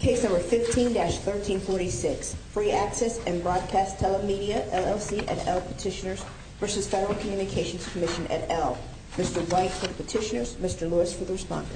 Case No. 15-1346, Free Access & Broadcast Telemedia, LLC, et al. petitioners v. Federal Communications Commission, et al. Mr. White for the petitioners, Mr. Lewis for the responder.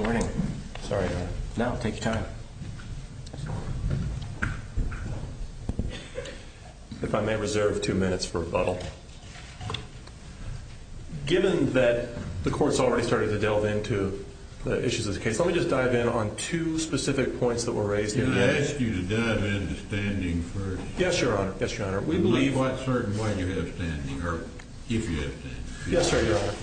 Good morning. Sorry to interrupt. Take your time. If I may reserve two minutes for rebuttal. Given that the court's already started to delve into the issues of the case, let me just dive in on two specific points that were raised here today. Can I ask you to dive into standing first? Yes, Your Honor. Yes, Your Honor. We believe... I'm not certain why you have standing, or if you have standing. Yes, sir, Your Honor.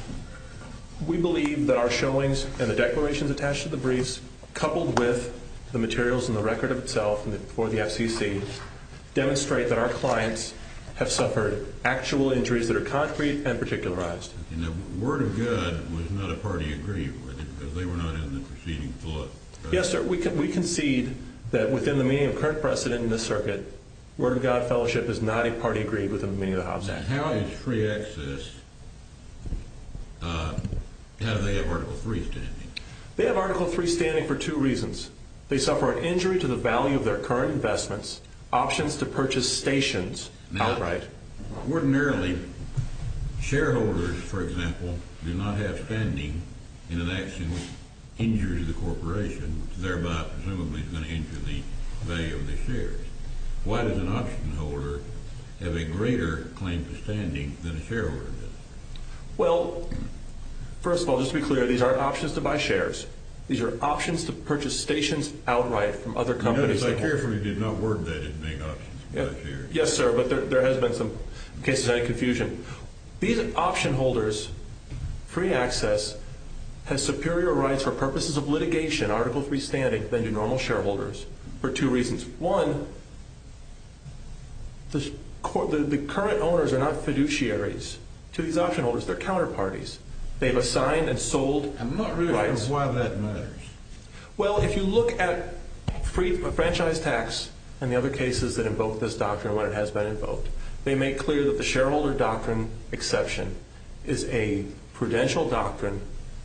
We believe that our showings and the declarations attached to the briefs, coupled with the materials and the record of itself for the FCC, demonstrate that our clients have suffered actual injuries that are concrete and particularized. And the word of God was not a party agreed with, because they were not in the preceding flood. Yes, sir. We concede that within the meaning of current precedent in this circuit, word of God fellowship is not a party agreed with in the meaning of the Hobbs Act. And how is free access... how do they have Article III standing? They have Article III standing for two reasons. They suffer an injury to the value of their current investments, options to purchase stations outright. Now, ordinarily, shareholders, for example, do not have standing in an action which injures the corporation, which thereby presumably is going to injure the value of their shares. Why does an option holder have a greater claim to standing than a shareholder does? Well, first of all, just to be clear, these aren't options to buy shares. These are options to purchase stations outright from other companies. Notice I carefully did not word that as being options to buy shares. Yes, sir, but there has been some cases of confusion. These option holders' free access has superior rights for purposes of litigation, Article III standing, than do normal shareholders, for two reasons. One, the current owners are not fiduciaries to these option holders. They're counterparties. They've assigned and sold rights. I'm not really sure why that matters. Well, if you look at franchise tax and the other cases that invoke this doctrine when it has been invoked, they make clear that the shareholder doctrine exception is a prudential doctrine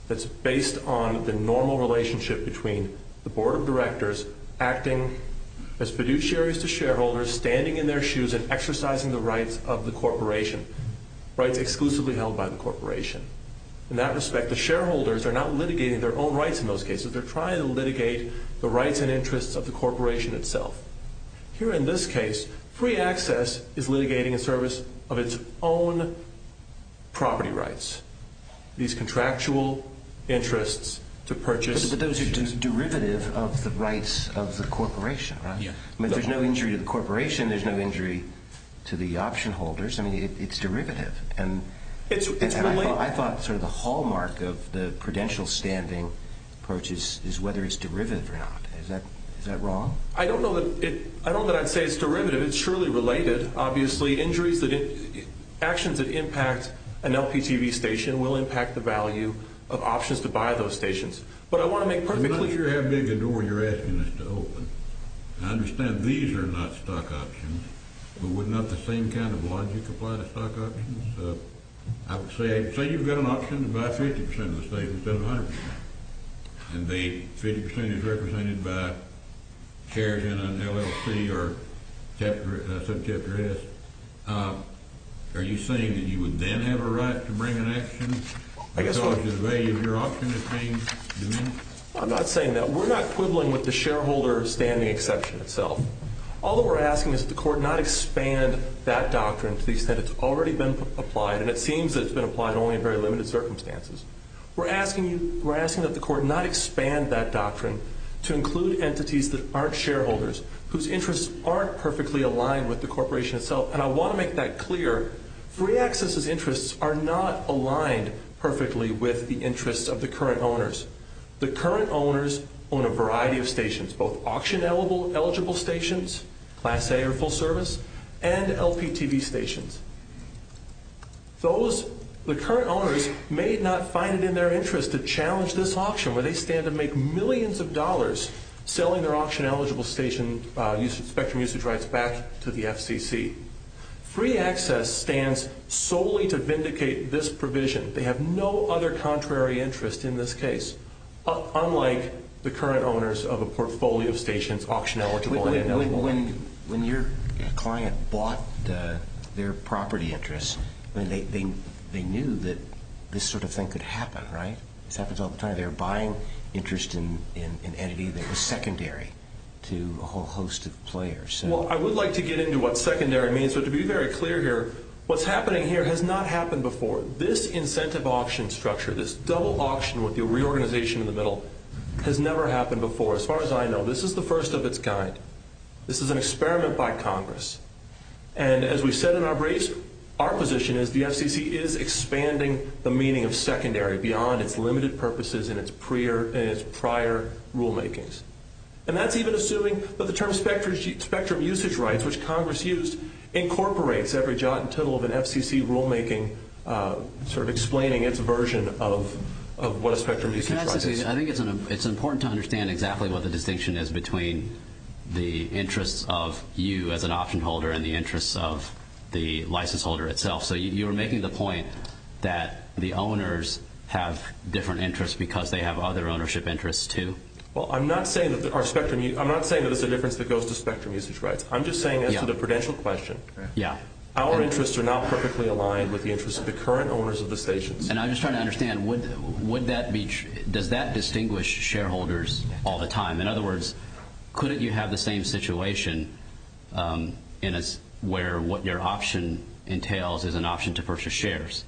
that's based on the normal relationship between the board of directors acting as fiduciaries to shareholders, standing in their shoes and exercising the rights of the corporation, rights exclusively held by the corporation. In that respect, the shareholders are not litigating their own rights in those cases. They're trying to litigate the rights and interests of the corporation itself. Here in this case, free access is litigating in service of its own property rights. These contractual interests to purchase. But those are just derivative of the rights of the corporation, right? I mean, there's no injury to the corporation. There's no injury to the option holders. I mean, it's derivative. And I thought sort of the hallmark of the prudential standing approach is whether it's derivative or not. Is that wrong? I don't know that I'd say it's derivative. It's surely related. Actions that impact an LPTV station will impact the value of options to buy those stations. But I want to make perfectly clear— I'm not sure how big a door you're asking us to open. I understand these are not stock options. But would not the same kind of logic apply to stock options? Say you've got an option to buy 50% of the station instead of 100%. And the 50% is represented by shares in an LLC or subchapter S. Are you saying that you would then have a right to bring an action because the value of your option is being diminished? I'm not saying that. We're not quibbling with the shareholder standing exception itself. All that we're asking is that the court not expand that doctrine to the extent it's already been applied. And it seems that it's been applied only in very limited circumstances. We're asking that the court not expand that doctrine to include entities that aren't shareholders, whose interests aren't perfectly aligned with the corporation itself. And I want to make that clear. Free access's interests are not aligned perfectly with the interests of the current owners. The current owners own a variety of stations, both auction-eligible stations, Class A or full service, and LPTV stations. The current owners may not find it in their interest to challenge this auction where they stand to make millions of dollars selling their auction-eligible station spectrum usage rights back to the FCC. Free access stands solely to vindicate this provision. They have no other contrary interest in this case, unlike the current owners of a portfolio of stations auction-eligible and eligible. When your client bought their property interest, they knew that this sort of thing could happen, right? This happens all the time. They were buying interest in an entity that was secondary to a whole host of players. Well, I would like to get into what secondary means. But to be very clear here, what's happening here has not happened before. This incentive auction structure, this double auction with the reorganization in the middle, has never happened before. As far as I know, this is the first of its kind. This is an experiment by Congress. And as we've said in our briefs, our position is the FCC is expanding the meaning of secondary beyond its limited purposes and its prior rulemakings. And that's even assuming that the term spectrum usage rights, which Congress used, incorporates every jot and tittle of an FCC rulemaking sort of explaining its version of what a spectrum usage right is. Can I say something? I think it's important to understand exactly what the distinction is between the interests of you as an auction holder and the interests of the license holder itself. So you're making the point that the owners have different interests because they have other ownership interests, too? Well, I'm not saying that there's a difference that goes to spectrum usage rights. I'm just saying as to the prudential question, our interests are now perfectly aligned with the interests of the current owners of the stations. And I'm just trying to understand, does that distinguish shareholders all the time? In other words, couldn't you have the same situation where what your option entails is an option to purchase shares,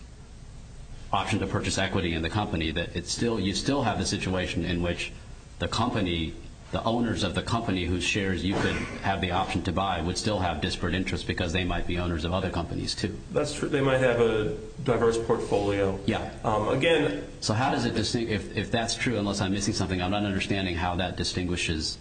option to purchase equity in the company, that you still have the situation in which the company, the owners of the company whose shares you could have the option to buy would still have disparate interests because they might be owners of other companies, too? That's true. They might have a diverse portfolio. Yeah. Again... So how does it distinguish? If that's true, unless I'm missing something, I'm not understanding how that distinguishes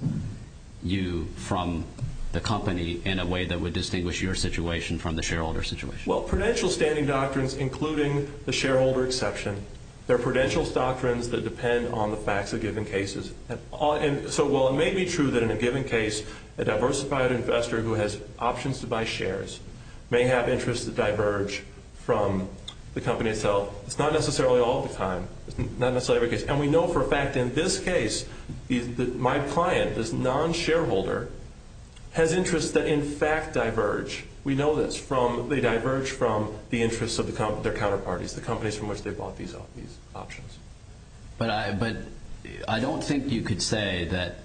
you from the company in a way that would distinguish your situation from the shareholder situation. Well, prudential standing doctrines, including the shareholder exception, they're prudential doctrines that depend on the facts of given cases. So while it may be true that in a given case a diversified investor who has options to buy shares may have interests that diverge from the company itself, it's not necessarily all the time. It's not necessarily every case. And we know for a fact in this case my client, this non-shareholder, has interests that in fact diverge. We know that they diverge from the interests of their counterparties, the companies from which they bought these options. But I don't think you could say that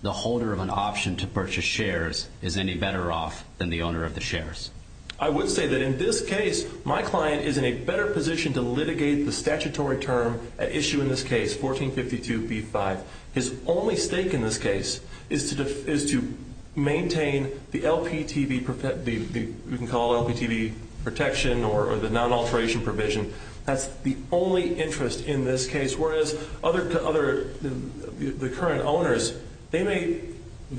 the holder of an option to purchase shares is any better off than the owner of the shares. I would say that in this case my client is in a better position to litigate the statutory term at issue in this case, 1452b-5. His only stake in this case is to maintain the LPTV protection or the non-alteration provision. That's the only interest in this case, whereas the current owners, they may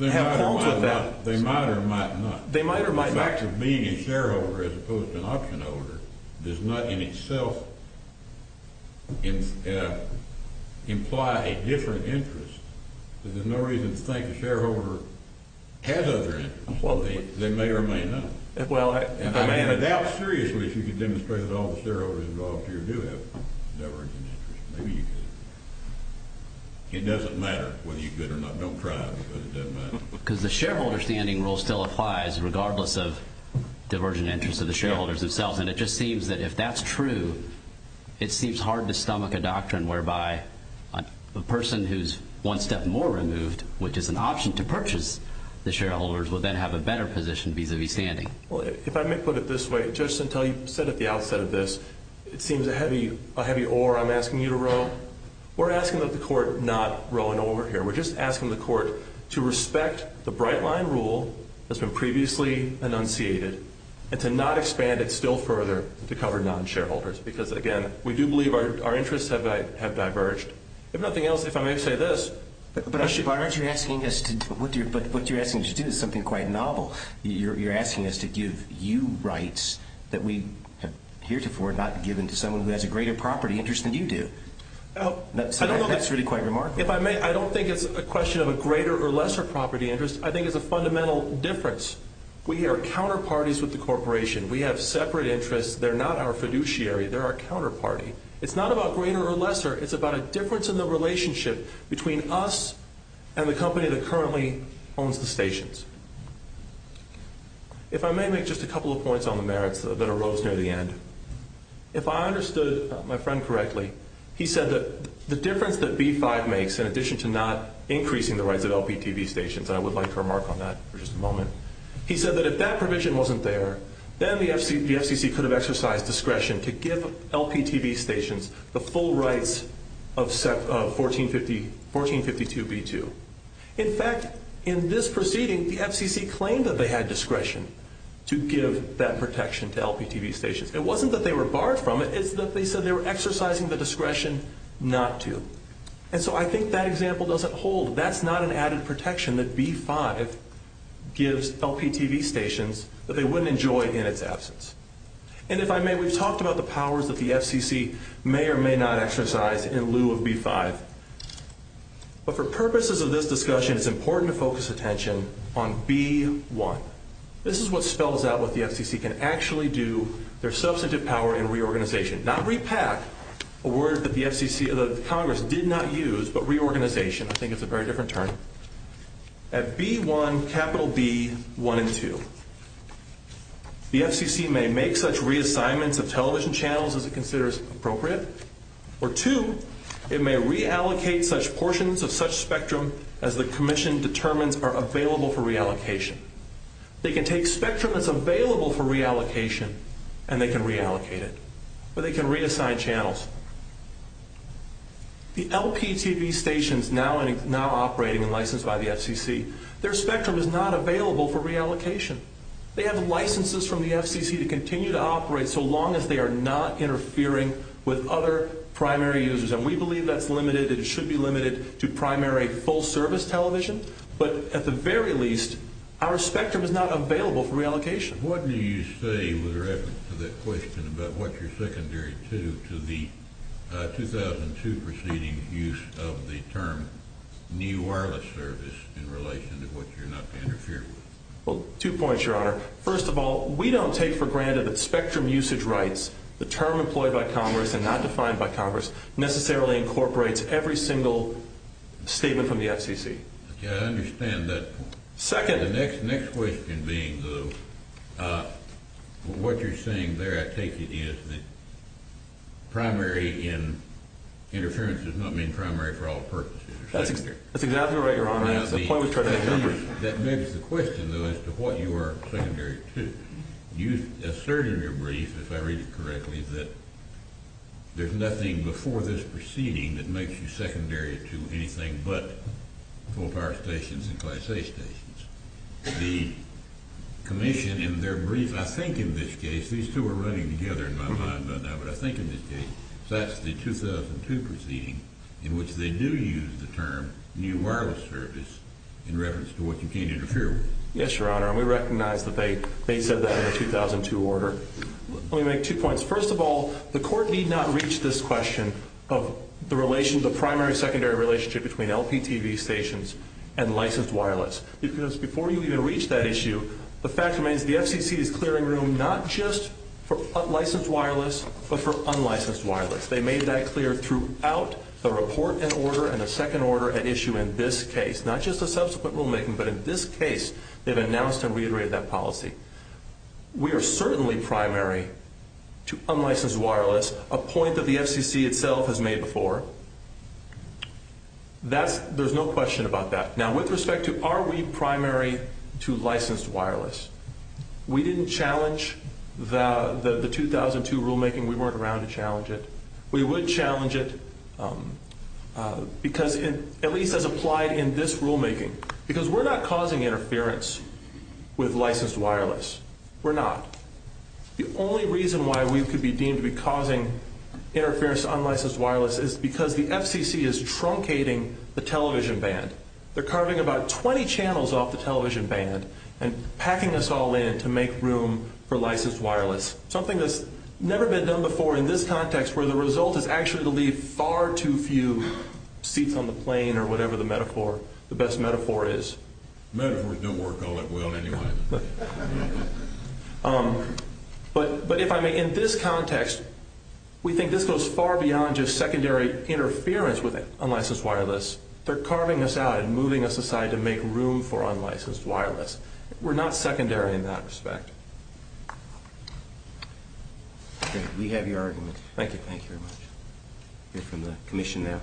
have qualms with that. They might or might not. They might or might not. The fact of being a shareholder as opposed to an option holder does not in itself imply a different interest. There's no reason to think a shareholder has other interests. They may or may not. I doubt seriously if you could demonstrate that all the shareholders involved here do have divergent interests. Maybe you could. It doesn't matter whether you're good or not. Don't cry because it doesn't matter. Because the shareholder standing rule still applies regardless of divergent interests of the shareholders themselves, and it just seems that if that's true, it seems hard to stomach a doctrine whereby a person who's one step more removed, which is an option to purchase the shareholders, would then have a better position vis-a-vis standing. Well, if I may put it this way, just until you said at the outset of this, it seems a heavy oar I'm asking you to row. We're asking that the court not row an oar here. We're just asking the court to respect the bright-line rule that's been previously enunciated and to not expand it still further to cover non-shareholders because, again, we do believe our interests have diverged. If nothing else, if I may say this. But aren't you asking us to do something quite novel? You're asking us to give you rights that we have heretofore not given to someone who has a greater property interest than you do. That's really quite remarkable. If I may, I don't think it's a question of a greater or lesser property interest. I think it's a fundamental difference. We are counterparties with the corporation. We have separate interests. They're not our fiduciary. They're our counterparty. It's not about greater or lesser. It's about a difference in the relationship between us and the company that currently owns the stations. If I may make just a couple of points on the merits that arose near the end. If I understood my friend correctly, he said that the difference that B-5 makes, in addition to not increasing the rights of LPTV stations, and I would like to remark on that for just a moment, he said that if that provision wasn't there, then the FCC could have exercised discretion to give LPTV stations the full rights of 1452 B-2. In fact, in this proceeding, the FCC claimed that they had discretion to give that protection to LPTV stations. It wasn't that they were barred from it. It's that they said they were exercising the discretion not to. And so I think that example doesn't hold. That's not an added protection that B-5 gives LPTV stations that they wouldn't enjoy in its absence. And if I may, we've talked about the powers that the FCC may or may not exercise in lieu of B-5. But for purposes of this discussion, it's important to focus attention on B-1. This is what spells out what the FCC can actually do, their substantive power in reorganization. Not repack, a word that Congress did not use, but reorganization. I think it's a very different term. At B-1, capital B-1 and 2, the FCC may make such reassignments of television channels as it considers appropriate, or two, it may reallocate such portions of such spectrum as the commission determines are available for reallocation. They can take spectrum that's available for reallocation, and they can reallocate it. Or they can reassign channels. The LPTV stations now operating and licensed by the FCC, their spectrum is not available for reallocation. They have licenses from the FCC to continue to operate so long as they are not interfering with other primary users. And we believe that's limited and should be limited to primary full-service television. But at the very least, our spectrum is not available for reallocation. What do you say with reference to that question about what you're secondary to, to the 2002 proceeding use of the term new wireless service in relation to what you're not interfering with? Well, two points, Your Honor. First of all, we don't take for granted that spectrum usage rights, the term employed by Congress and not defined by Congress, necessarily incorporates every single statement from the FCC. Okay, I understand that point. Second. The next question being, though, what you're saying there, I take it, is that primary interference does not mean primary for all purposes. That's exactly right, Your Honor. That's the point we're trying to make. That begs the question, though, as to what you are secondary to. You asserted in your brief, if I read it correctly, that there's nothing before this proceeding that makes you secondary to anything but full-power stations and Class A stations. The commission in their brief, I think in this case, these two are running together in my mind right now, but I think in this case that's the 2002 proceeding in which they do use the term new wireless service in reference to what you can't interfere with. Yes, Your Honor, and we recognize that they said that in the 2002 order. Let me make two points. First of all, the court need not reach this question of the primary-secondary relationship between LPTV stations and licensed wireless. Because before you even reach that issue, the fact remains the FCC is clearing room not just for licensed wireless, but for unlicensed wireless. They made that clear throughout the report and order and the second order at issue in this case. Not just the subsequent rulemaking, but in this case, they've announced and reiterated that policy. We are certainly primary to unlicensed wireless, a point that the FCC itself has made before. There's no question about that. Now, with respect to are we primary to licensed wireless, we didn't challenge the 2002 rulemaking. We weren't around to challenge it. We would challenge it, at least as applied in this rulemaking, because we're not causing interference with licensed wireless. We're not. The only reason why we could be deemed to be causing interference with unlicensed wireless is because the FCC is truncating the television band. They're carving about 20 channels off the television band and packing us all in to make room for licensed wireless. Something that's never been done before in this context where the result is actually to leave far too few seats on the plane or whatever the metaphor, the best metaphor is. Metaphors don't work all at will anyway. But if I may, in this context, we think this goes far beyond just secondary interference with unlicensed wireless. They're carving us out and moving us aside to make room for unlicensed wireless. We're not secondary in that respect. Okay. We have your argument. Thank you. Thank you very much. We'll hear from the commission now.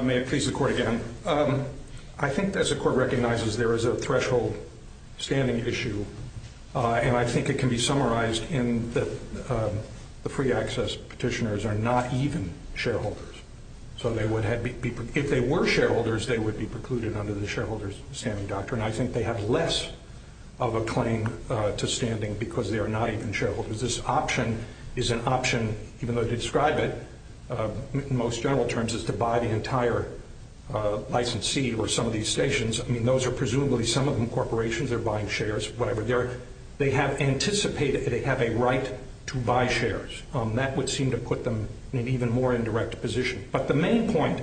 May it please the Court again. I think, as the Court recognizes, there is a threshold standing issue, and I think it can be summarized in that the free access petitioners are not even shareholders. So if they were shareholders, they would be precluded under the shareholders standing doctrine. I think they have less of a claim to standing because they are not even shareholders. This option is an option, even though to describe it in most general terms is to buy the entire licensee or some of these stations. I mean, those are presumably some of them corporations. They're buying shares, whatever. They have anticipated that they have a right to buy shares. That would seem to put them in an even more indirect position. But the main point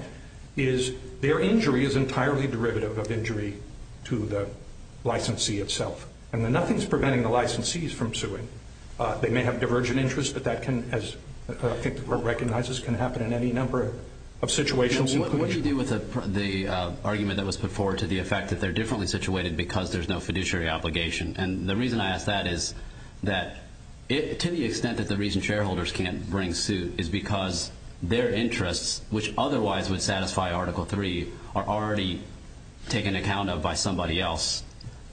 is their injury is entirely derivative of injury to the licensee itself. And nothing is preventing the licensees from suing. They may have divergent interests, but that can, as I think the Court recognizes, can happen in any number of situations. What do you do with the argument that was put forward to the effect that they're differently situated because there's no fiduciary obligation? And the reason I ask that is that to the extent that the reason shareholders can't bring suit is because their interests, which otherwise would satisfy Article III, are already taken account of by somebody else,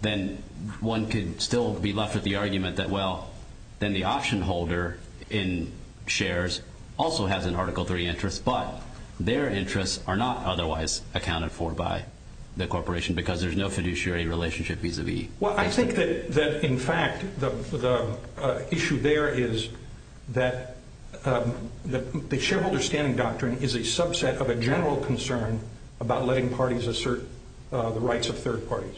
then one could still be left with the argument that, well, then the option holder in shares also has an Article III interest, but their interests are not otherwise accounted for by the corporation because there's no fiduciary relationship vis-a-vis. Well, I think that, in fact, the issue there is that the shareholder standing doctrine is a subset of a general concern about letting parties assert the rights of third parties.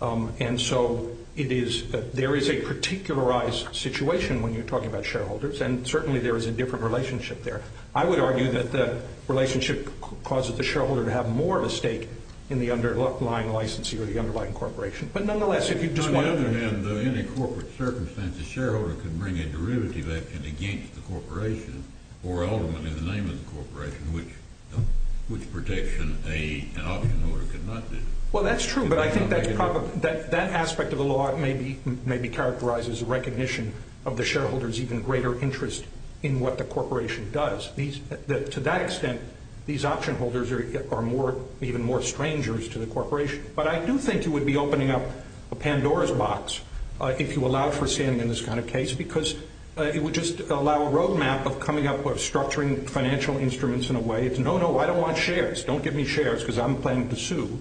And so there is a particularized situation when you're talking about shareholders, and certainly there is a different relationship there. I would argue that the relationship causes the shareholder to have more of a stake in the underlying licensee or the underlying corporation. But nonetheless, if you just want to... On the other hand, though, in a corporate circumstance, a shareholder can bring a derivative action against the corporation or ultimately the name of the corporation, which protection an option holder cannot do. Well, that's true, but I think that aspect of the law maybe characterizes a recognition of the shareholder's even greater interest in what the corporation does. To that extent, these option holders are even more strangers to the corporation. But I do think you would be opening up a Pandora's box if you allow for standing in this kind of case because it would just allow a roadmap of coming up with structuring financial instruments in a way. It's, no, no, I don't want shares. Don't give me shares because I'm planning to sue.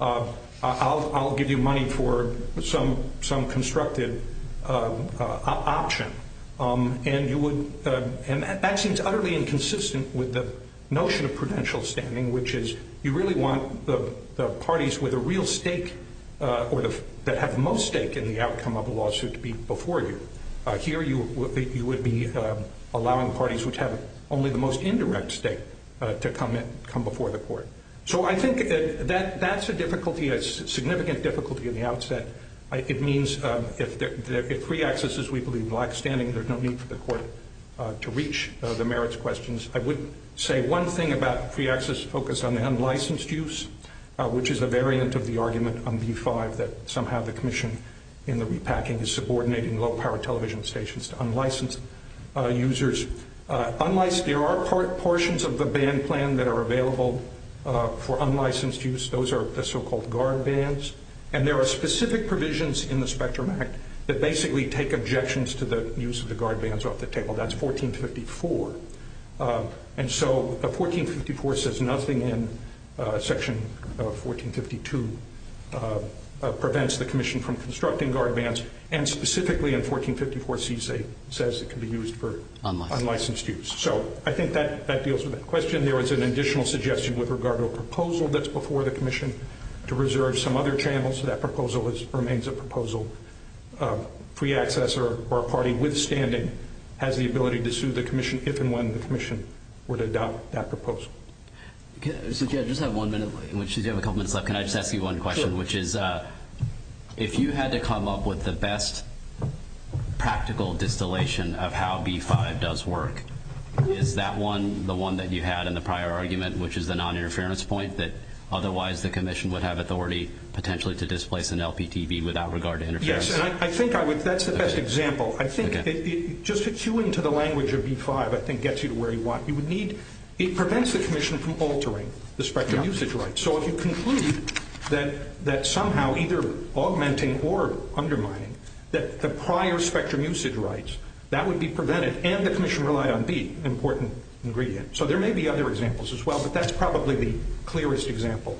I'll give you money for some constructed option. And that seems utterly inconsistent with the notion of prudential standing, which is you really want the parties with a real stake or that have the most stake in the outcome of a lawsuit to be before you. Here you would be allowing parties which have only the most indirect stake to come before the court. So I think that that's a difficulty, a significant difficulty in the outset. It means if free access is, we believe, black standing, there's no need for the court to reach the merits questions. I would say one thing about free access focused on the unlicensed use, which is a variant of the argument on B-5 that somehow the commission in the repacking is subordinating low-power television stations to unlicensed users. There are portions of the ban plan that are available for unlicensed use. Those are the so-called guard bans. And there are specific provisions in the Spectrum Act that basically take objections to the use of the guard bans off the table. That's 1454. And so 1454 says nothing in section 1452 prevents the commission from constructing guard bans, and specifically in 1454 C says it can be used for unlicensed use. So I think that deals with that question. There is an additional suggestion with regard to a proposal that's before the commission to reserve some other channels. That proposal remains a proposal. Free access or a party with standing has the ability to sue the commission if and when the commission were to adopt that proposal. So, Jay, I just have one minute in which you have a couple minutes left. Can I just ask you one question? Sure. Which is if you had to come up with the best practical distillation of how B-5 does work, is that one the one that you had in the prior argument, which is the noninterference point, that otherwise the commission would have authority potentially to displace an LPTB without regard to interference? Yes, and I think that's the best example. I think just to cue into the language of B-5 I think gets you to where you want. It prevents the commission from altering the spectrum usage rights. So if you conclude that somehow either augmenting or undermining the prior spectrum usage rights, that would be prevented and the commission relied on B, an important ingredient. So there may be other examples as well, but that's probably the clearest example,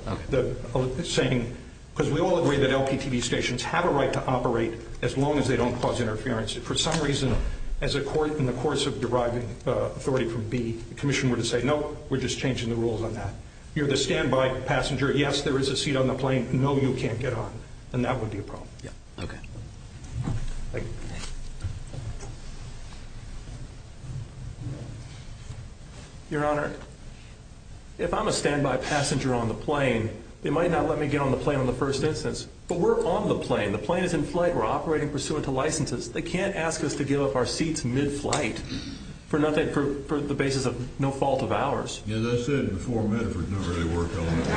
saying because we all agree that LPTB stations have a right to operate as long as they don't cause interference. If for some reason in the course of deriving authority from B, the commission were to say, no, we're just changing the rules on that. You're the standby passenger. Yes, there is a seat on the plane. No, you can't get on. Then that would be a problem. Yeah. Okay. Thank you. Your Honor, if I'm a standby passenger on the plane, they might not let me get on the plane on the first instance, but we're on the plane. The plane is in flight. We're operating pursuant to licenses. They can't ask us to give up our seats mid-flight for the basis of no fault of ours. Yeah, that's it. Before Medford never really worked on it.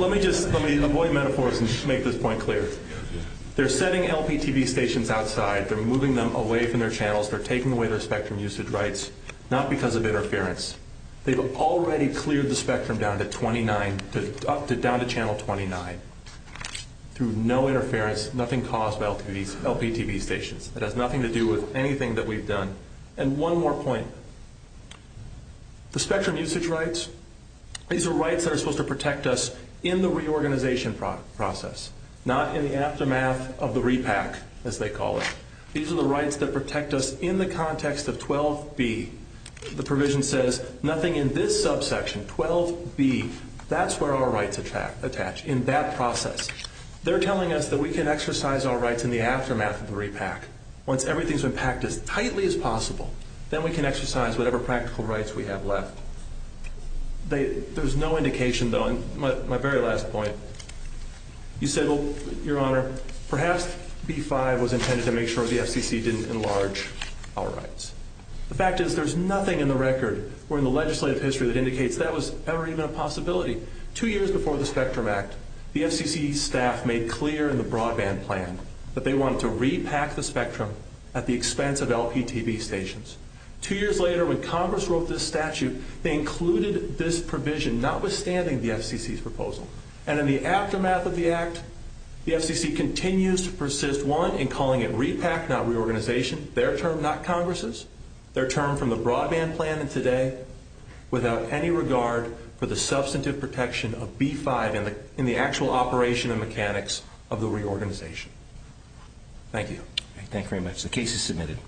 Let me just avoid metaphors and just make this point clear. They're setting LPTB stations outside. They're moving them away from their channels. They're taking away their spectrum usage rights, not because of interference. They've already cleared the spectrum down to channel 29 through no interference, nothing caused by LPTB stations. It has nothing to do with anything that we've done. And one more point. The spectrum usage rights, these are rights that are supposed to protect us in the reorganization process, not in the aftermath of the repack, as they call it. These are the rights that protect us in the context of 12B. The provision says nothing in this subsection, 12B. That's where our rights attach, in that process. They're telling us that we can exercise our rights in the aftermath of the repack. Once everything's been packed as tightly as possible, then we can exercise whatever practical rights we have left. There's no indication, though, on my very last point. You said, Your Honor, perhaps B-5 was intended to make sure the FCC didn't enlarge our rights. The fact is there's nothing in the record or in the legislative history that indicates that was ever even a possibility. Two years before the Spectrum Act, the FCC staff made clear in the broadband plan that they wanted to repack the spectrum at the expense of LPTB stations. Two years later, when Congress wrote this statute, they included this provision, notwithstanding the FCC's proposal. And in the aftermath of the act, the FCC continues to persist, one, in calling it repack, not reorganization, their term, not Congress's, their term from the broadband plan and today, without any regard for the substantive protection of B-5 in the actual operation and mechanics of the reorganization. Thank you. Thank you very much. The case is submitted.